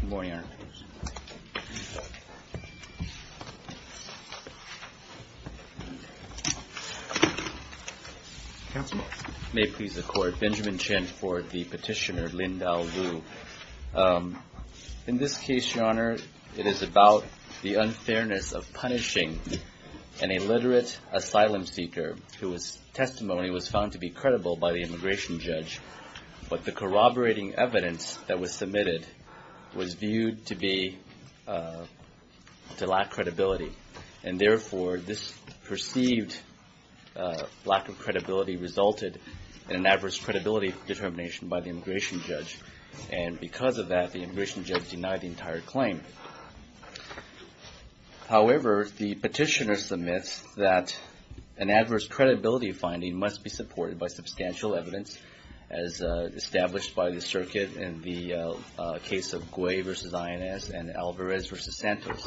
Good morning, Your Honor. May it please the Court, Benjamin Chin for the petitioner, Lin Dao Lu. In this case, Your Honor, it is about the unfairness of punishing an illiterate asylum seeker whose testimony was found to be credible by the immigration judge, but the corroborating evidence that was submitted was viewed to lack credibility, and therefore this perceived lack of credibility resulted in an adverse credibility determination by the immigration judge, and because of that the immigration judge denied the entire claim. However, the petitioner submits that an adverse credibility finding must be supported by substantial evidence as established by the circuit in the case of Guay v. INS and Alvarez v. Santos,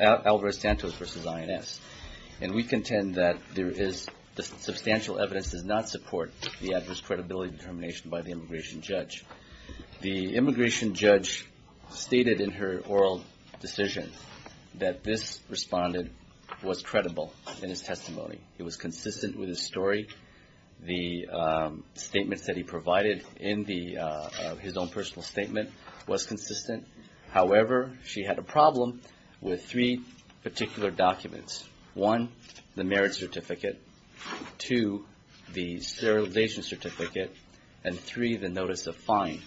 Alvarez-Santos v. INS, and we contend that there is, the substantial evidence does not support the adverse credibility determination by the immigration judge. The immigration judge stated in her oral decision that this responded was credible in his testimony. It was consistent with his story. The statements that he provided in his own personal statement was consistent. However, she had a problem with three particular documents. One, the merit certificate, two, the sterilization certificate, and three, the notice of fine.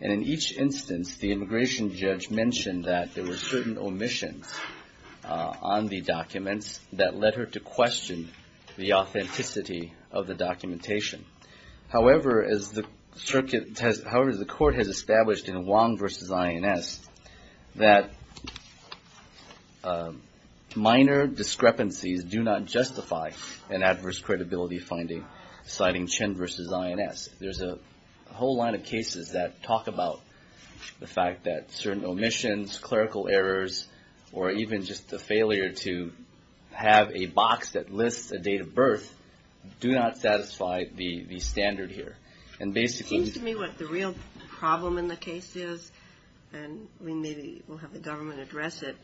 And in each instance, the immigration judge mentioned that there were certain omissions on the documents that led her to question the authenticity of the documentation. However, as the court has established in Wong v. INS, that minor discrepancies do not justify an adverse credibility finding, citing Chinn v. INS. There's a whole line of cases that talk about the fact that certain omissions, clerical errors, or even just the failure to have a box that lists a date of birth do not satisfy the standard here. And basically... It seems to me what the real problem in the case is, and we maybe will have the government address it,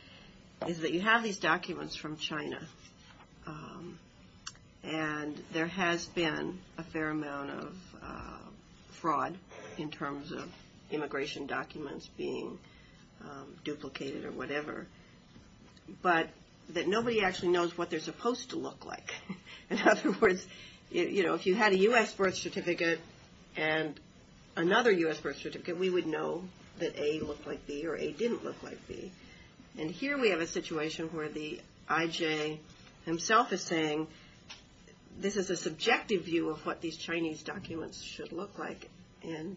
is that you have these documents from China, and there has been a fair amount of fraud in terms of immigration documents being duplicated or whatever, but that nobody actually knows what they're supposed to look like. In other words, if you had a U.S. birth certificate and another U.S. birth certificate, we would know that A looked like B or A didn't look like B. And here we have a situation where the I.J. himself is saying, this is a subjective view of what these Chinese documents should look like. And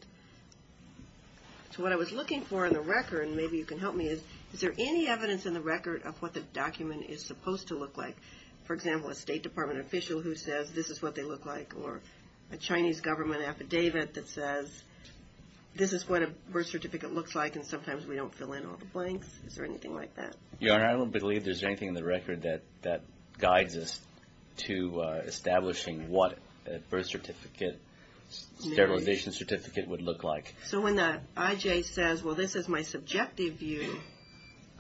so what I was looking for in the record, and maybe you can help me, is there any evidence in the record of what the document is supposed to look like? For example, a State Department official who says this is what they look like, or a Chinese government affidavit that says this is what a birth certificate looks like, and sometimes we don't fill in all the blanks. Is there anything like that? Your Honor, I don't believe there's anything in the record that guides us to establishing what a birth certificate, sterilization certificate would look like. So when the I.J. says, well, this is my subjective view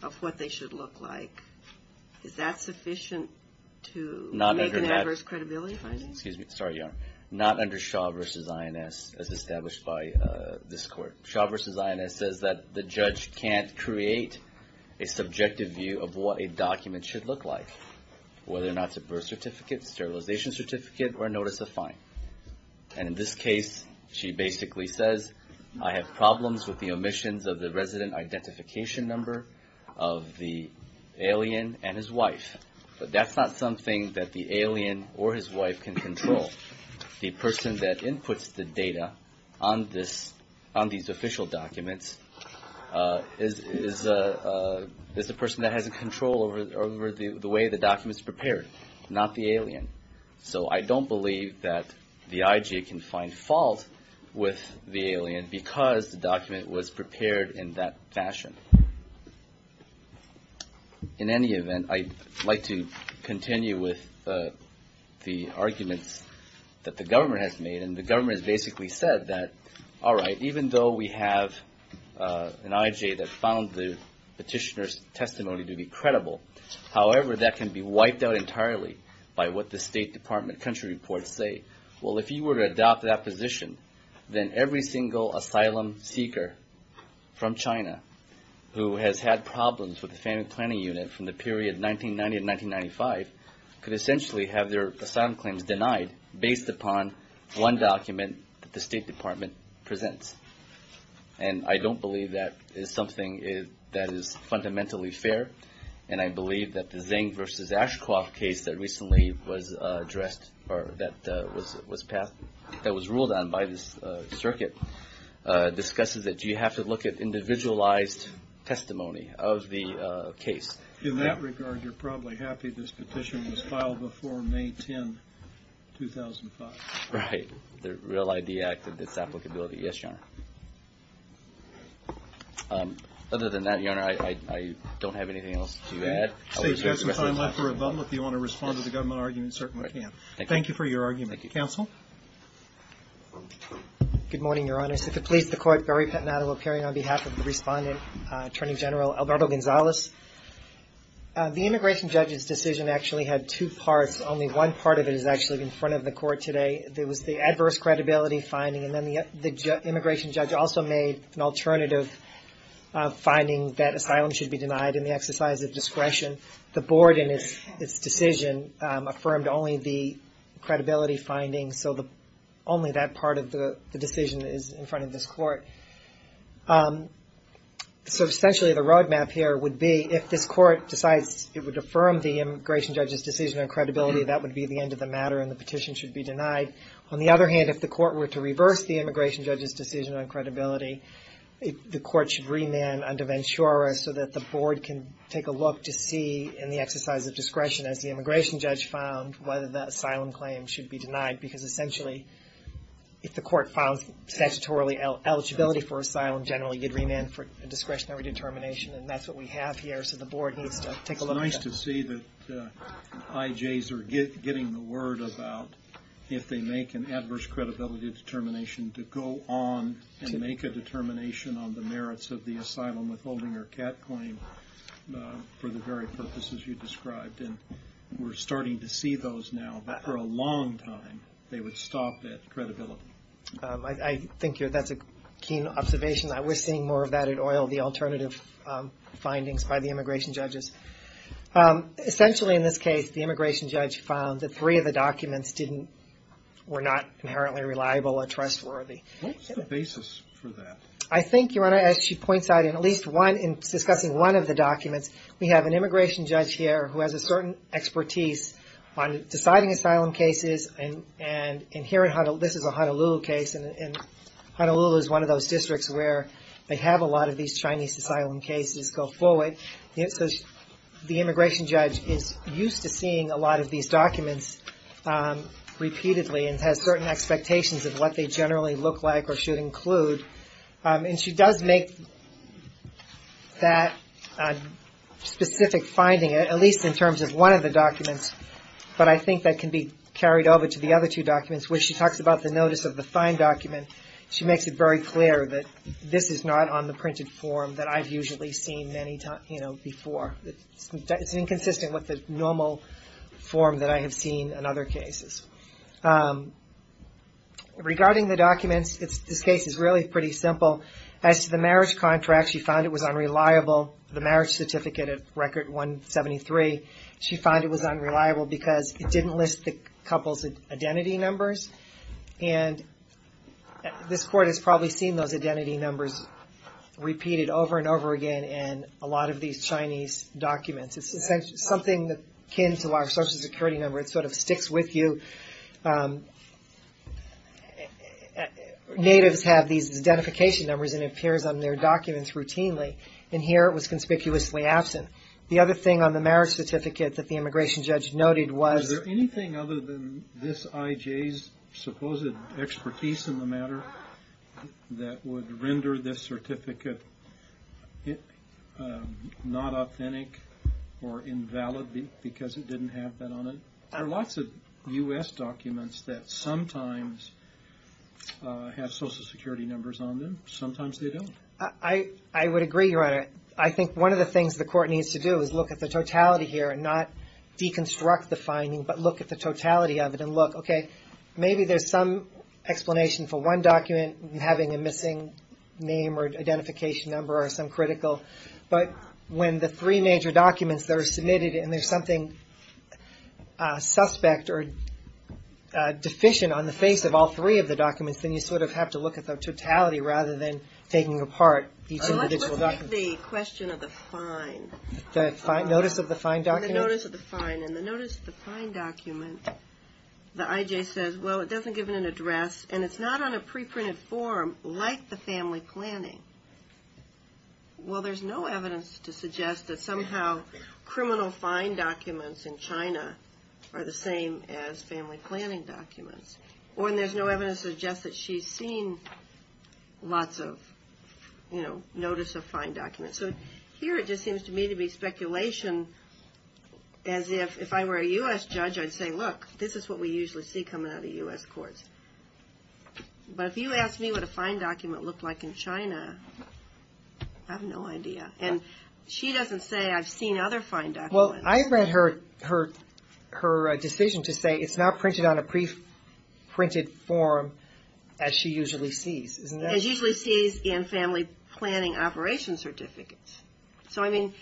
of what they should look like, is that sufficient to make an adverse credibility finding? Excuse me. Sorry, Your Honor. Not under Shaw v. INS as established by this court. Shaw v. INS says that the judge can't create a subjective view of what a document should look like, whether or not it's a birth certificate, sterilization certificate, or a notice of fine. And in this case, she basically says, I have problems with the omissions of the resident identification number of the alien and his wife. But that's not something that the alien or his wife can control. The person that inputs the data on these official documents is the person that has control over the way the document is prepared, not the alien. So I don't believe that the I.J. can find fault with the alien because the document was prepared in that fashion. In any event, I'd like to continue with the arguments that the government has made. And the government has basically said that, all right, even though we have an I.J. that found the petitioner's testimony to be credible, however, that can be wiped out entirely by what the State Department country reports say. Well, if you were to adopt that position, then every single asylum seeker from China who has had problems with the family planning unit from the period 1990 to 1995 could essentially have their asylum claims denied based upon one document that the State Department presents. And I don't believe that is something that is fundamentally fair. And I believe that the Zeng versus Ashcroft case that recently was addressed or that was ruled on by this circuit discusses that you have to look at individualized testimony of the case. In that regard, you're probably happy this petition was filed before May 10, 2005. Right. The Real ID Act and its applicability. Yes, Your Honor. Other than that, Your Honor, I don't have anything else to add. If you want to respond to the government argument, certainly can. Thank you for your argument. Counsel? Good morning, Your Honor. As it pleases the Court, Barry Pantanato will carry on behalf of the Respondent, Attorney General Alberto Gonzalez. The immigration judge's decision actually had two parts. Only one part of it is actually in front of the Court today. There was the adverse credibility finding, and then the immigration judge also made an alternative finding that asylum should be denied in the exercise of discretion. The Board, in its decision, affirmed only the credibility finding. So only that part of the decision is in front of this Court. So essentially the roadmap here would be if this Court decides it would affirm the immigration judge's decision on credibility, that would be the end of the matter and the petition should be denied. On the other hand, if the Court were to reverse the immigration judge's decision on credibility, the Court should remand under Ventura so that the Board can take a look to see, in the exercise of discretion, as the immigration judge found, whether the asylum claim should be denied. Because essentially, if the Court found statutorily eligibility for asylum, generally you'd remand for a discretionary determination, and that's what we have here. So the Board needs to take a look at that. I'm curious to see that IJs are getting the word about if they make an adverse credibility determination to go on and make a determination on the merits of the asylum withholding or CAT claim for the very purposes you described. And we're starting to see those now, but for a long time they would stop at credibility. I think that's a keen observation. We're seeing more of that at OIL, the alternative findings by the immigration judges. Essentially, in this case, the immigration judge found that three of the documents were not inherently reliable or trustworthy. What was the basis for that? I think, as she points out, in discussing one of the documents, we have an immigration judge here who has a certain expertise on deciding asylum cases. And this is a Honolulu case, and Honolulu is one of those districts where they have a lot of these Chinese asylum cases go forward. So the immigration judge is used to seeing a lot of these documents repeatedly and has certain expectations of what they generally look like or should include. And she does make that specific finding, at least in terms of one of the documents. But I think that can be carried over to the other two documents, where she talks about the notice of the fine document. She makes it very clear that this is not on the printed form that I've usually seen many times, you know, before. It's inconsistent with the normal form that I have seen in other cases. Regarding the documents, this case is really pretty simple. As to the marriage contract, she found it was unreliable. The marriage certificate at Record 173, she found it was unreliable because it didn't list the couple's identity numbers. And this court has probably seen those identity numbers repeated over and over again in a lot of these Chinese documents. It's something akin to our Social Security number. It sort of sticks with you. Natives have these identification numbers and it appears on their documents routinely. And here it was conspicuously absent. The other thing on the marriage certificate that the immigration judge noted was... Was there anything other than this IJ's supposed expertise in the matter that would render this certificate not authentic or invalid because it didn't have that on it? There are lots of U.S. documents that sometimes have Social Security numbers on them. Sometimes they don't. I would agree, Your Honor. I think one of the things the court needs to do is look at the totality here and not deconstruct the finding. But look at the totality of it and look, okay, maybe there's some explanation for one document having a missing name or identification number or some critical. But when the three major documents that are submitted and there's something suspect or deficient on the face of all three of the documents, then you sort of have to look at the totality rather than taking apart each individual document. Let's take the question of the fine. The notice of the fine document? The notice of the fine document. The IJ says, well, it doesn't give an address and it's not on a pre-printed form like the family planning. Well, there's no evidence to suggest that somehow criminal fine documents in China are the same as family planning documents. Or there's no evidence to suggest that she's seen lots of, you know, notice of fine documents. So here it just seems to me to be speculation as if I were a U.S. judge, I'd say, look, this is what we usually see coming out of U.S. courts. But if you ask me what a fine document looked like in China, I have no idea. And she doesn't say I've seen other fine documents. Well, I read her decision to say it's not printed on a pre-printed form as she usually sees. As she usually sees in family planning operations certificates. So I mean,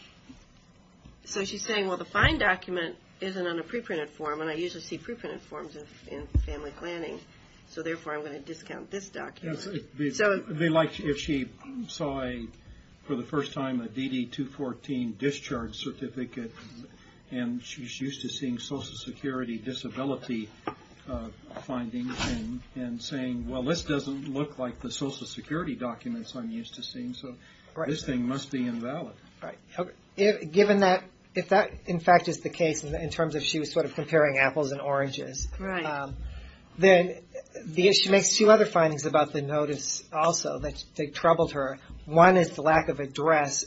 so she's saying, well, the fine document isn't on a pre-printed form. And I usually see pre-printed forms in family planning. So therefore, I'm going to discount this document. They like if she saw for the first time a DD-214 discharge certificate and she's used to seeing Social Security disability findings and saying, well, this doesn't look like the Social Security documents I'm used to seeing. So this thing must be invalid. If that, in fact, is the case in terms of she was sort of comparing apples and oranges. Then she makes two other findings about the notice also that troubled her. One is the lack of address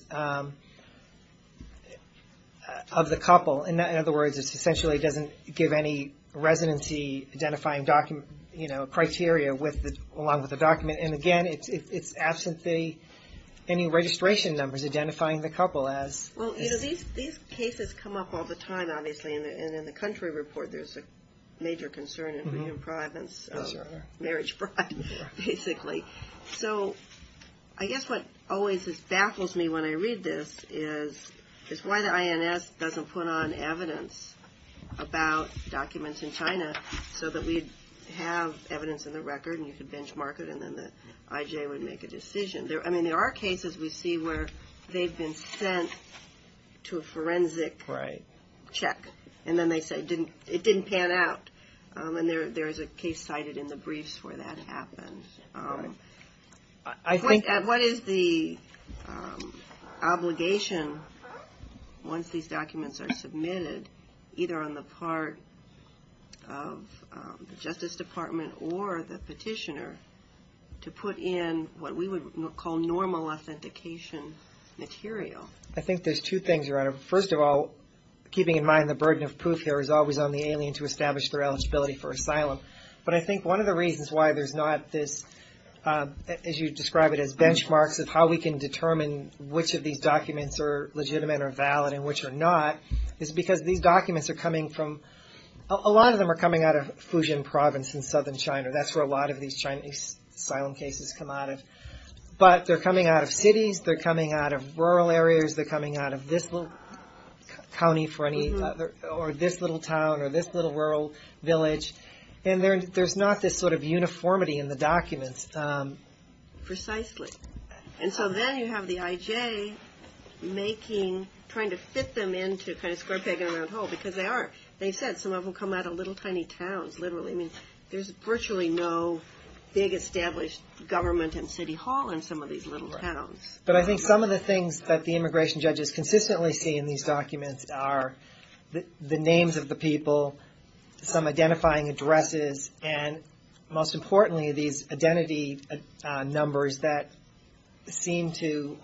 of the couple. In other words, it essentially doesn't give any residency identifying criteria along with the document. And again, it's absent any registration numbers identifying the couple. Well, these cases come up all the time, obviously. And in the country report, there's a major concern of marriage pride, basically. So I guess what always baffles me when I read this is why the INS doesn't put on evidence about documents in China. So that we'd have evidence in the record and you could benchmark it and then the IJ would make a decision. I mean, there are cases we see where they've been sent to a forensic check. And then they say it didn't pan out. And there is a case cited in the briefs where that happened. What is the obligation once these documents are submitted, either on the part of the Justice Department or the petitioner, to put in what we would call normal authentication material? I think there's two things. First of all, keeping in mind the burden of proof here is always on the alien to establish their eligibility for asylum. But I think one of the reasons why there's not this, as you describe it, as benchmarks of how we can determine which of these documents are legitimate or valid and which are not, is because these documents are coming from, a lot of them are coming out of Fujian province in southern China. That's where a lot of these Chinese asylum cases come out of. But they're coming out of cities, they're coming out of rural areas, they're coming out of this little county or this little town or this little rural village. And there's not this sort of uniformity in the documents. Precisely. And so then you have the IJ making, trying to fit them into kind of square peg in a round hole, because they are. They said some of them come out of little tiny towns, literally. I mean, there's virtually no big established government in City Hall in some of these little towns. But I think some of the things that the immigration judges consistently see in these documents are the names of the people, some identifying addresses, and most importantly, these identity numbers that seem to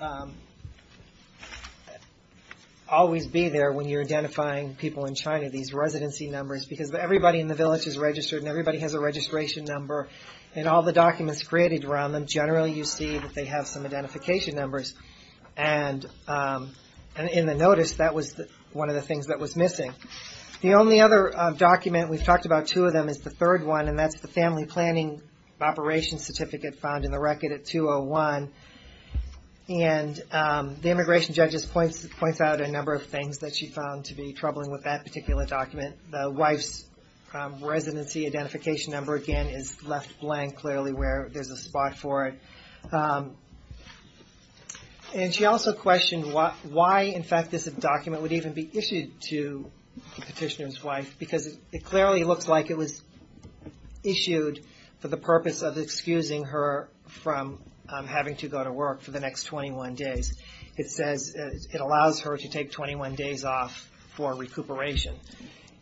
always be there when you're identifying people in China. These residency numbers, because everybody in the village is registered and everybody has a registration number. And all the documents created around them, generally you see that they have some identification numbers. And in the notice, that was one of the things that was missing. The only other document, we've talked about two of them, is the third one, and that's the family planning operations certificate found in the record at 201. And the immigration judges points out a number of things that she found to be troubling with that particular document. The wife's residency identification number, again, is left blank, clearly where there's a spot for it. And she also questioned why, in fact, this document would even be issued to the petitioner's wife. Because it clearly looks like it was issued for the purpose of excusing her from having to go to work for the next 21 days. It says it allows her to take 21 days off for recuperation.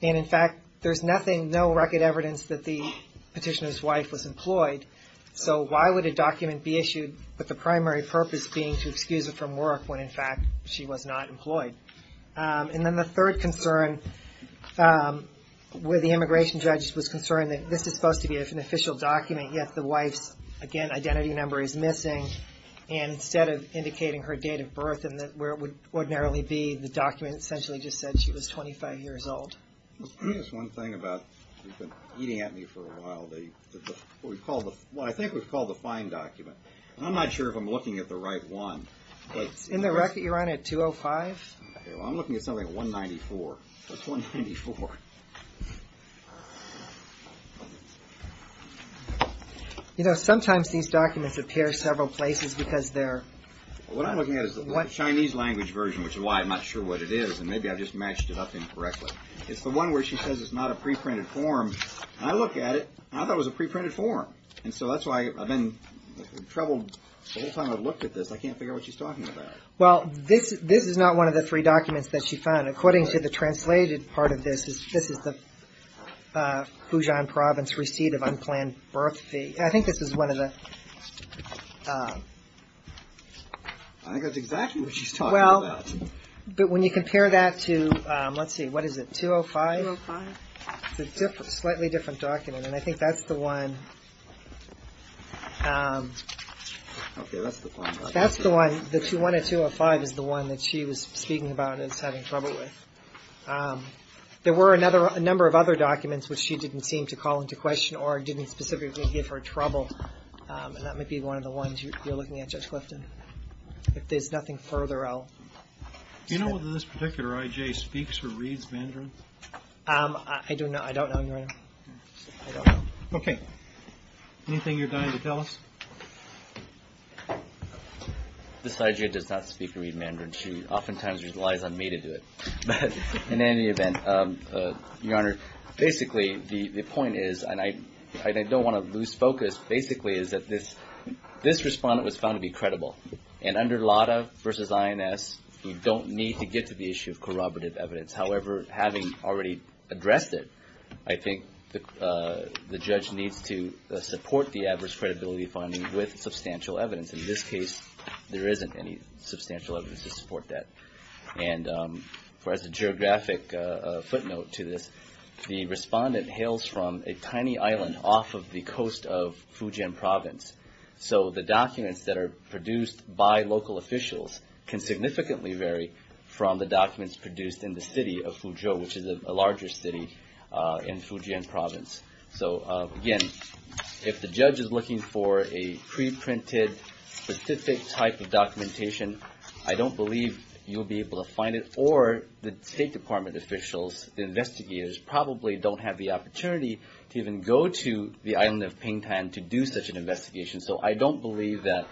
And, in fact, there's nothing, no record evidence that the petitioner's wife was employed. So why would a document be issued with the primary purpose being to excuse her from work when, in fact, she was not employed? And then the third concern, where the immigration judge was concerned that this is supposed to be an official document, yet the wife's, again, identity number is missing. And instead of indicating her date of birth and where it would ordinarily be, the document essentially just said she was 25 years old. Let me ask one thing about, you've been eating at me for a while, what I think we call the fine document. And I'm not sure if I'm looking at the right one. It's in the record you're on at 205. Well, I'm looking at something 194. What's 194? You know, sometimes these documents appear several places because they're... What I'm looking at is the Chinese language version, which is why I'm not sure what it is. And maybe I've just matched it up incorrectly. It's the one where she says it's not a preprinted form. And I look at it, and I thought it was a preprinted form. And so that's why I've been troubled the whole time I've looked at this. I can't figure out what she's talking about. Well, this is not one of the three documents that she found. According to the translated part of this, this is the Fujian Province receipt of unplanned birth fee. I think this is one of the... I think that's exactly what she's talking about. But when you compare that to, let's see, what is it, 205? It's a slightly different document, and I think that's the one... Okay, that's the one. That's the one, the 205 is the one that she was speaking about and is having trouble with. There were a number of other documents which she didn't seem to call into question or didn't specifically give her trouble. And that might be one of the ones you're looking at, Judge Clifton. If there's nothing further, I'll... Do you know whether this particular I.J. speaks or reads Mandarin? I don't know, Your Honor. I don't know. Okay. Anything you're dying to tell us? This I.J. does not speak or read Mandarin. She oftentimes relies on me to do it. But in any event, Your Honor, basically the point is, and I don't want to lose focus, basically is that this respondent was found to be credible. And under LADA versus INS, you don't need to get to the issue of corroborative evidence. However, having already addressed it, I think the judge needs to support the adverse credibility finding with substantial evidence. In this case, there isn't any substantial evidence to support that. And as a geographic footnote to this, the respondent hails from a tiny island off of the coast of Fujian Province. So the documents that are produced by local officials can significantly vary from the documents produced in the city of Fuzhou, which is a larger city in Fujian Province. So again, if the judge is looking for a preprinted specific type of documentation, I don't believe you'll be able to find it. Or the State Department officials, the investigators, probably don't have the opportunity to even go to the island of Pingtan to do such an investigation. So I don't believe that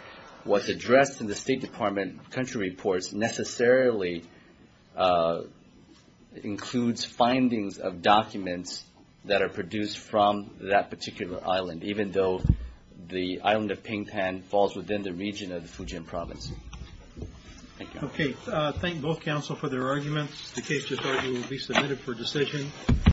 what's addressed in the State Department country reports necessarily includes findings of documents that are produced from that particular island, even though the island of Pingtan falls within the region of the Fujian Province. Thank you. Okay, thank both counsel for their arguments. The case will be submitted for decision.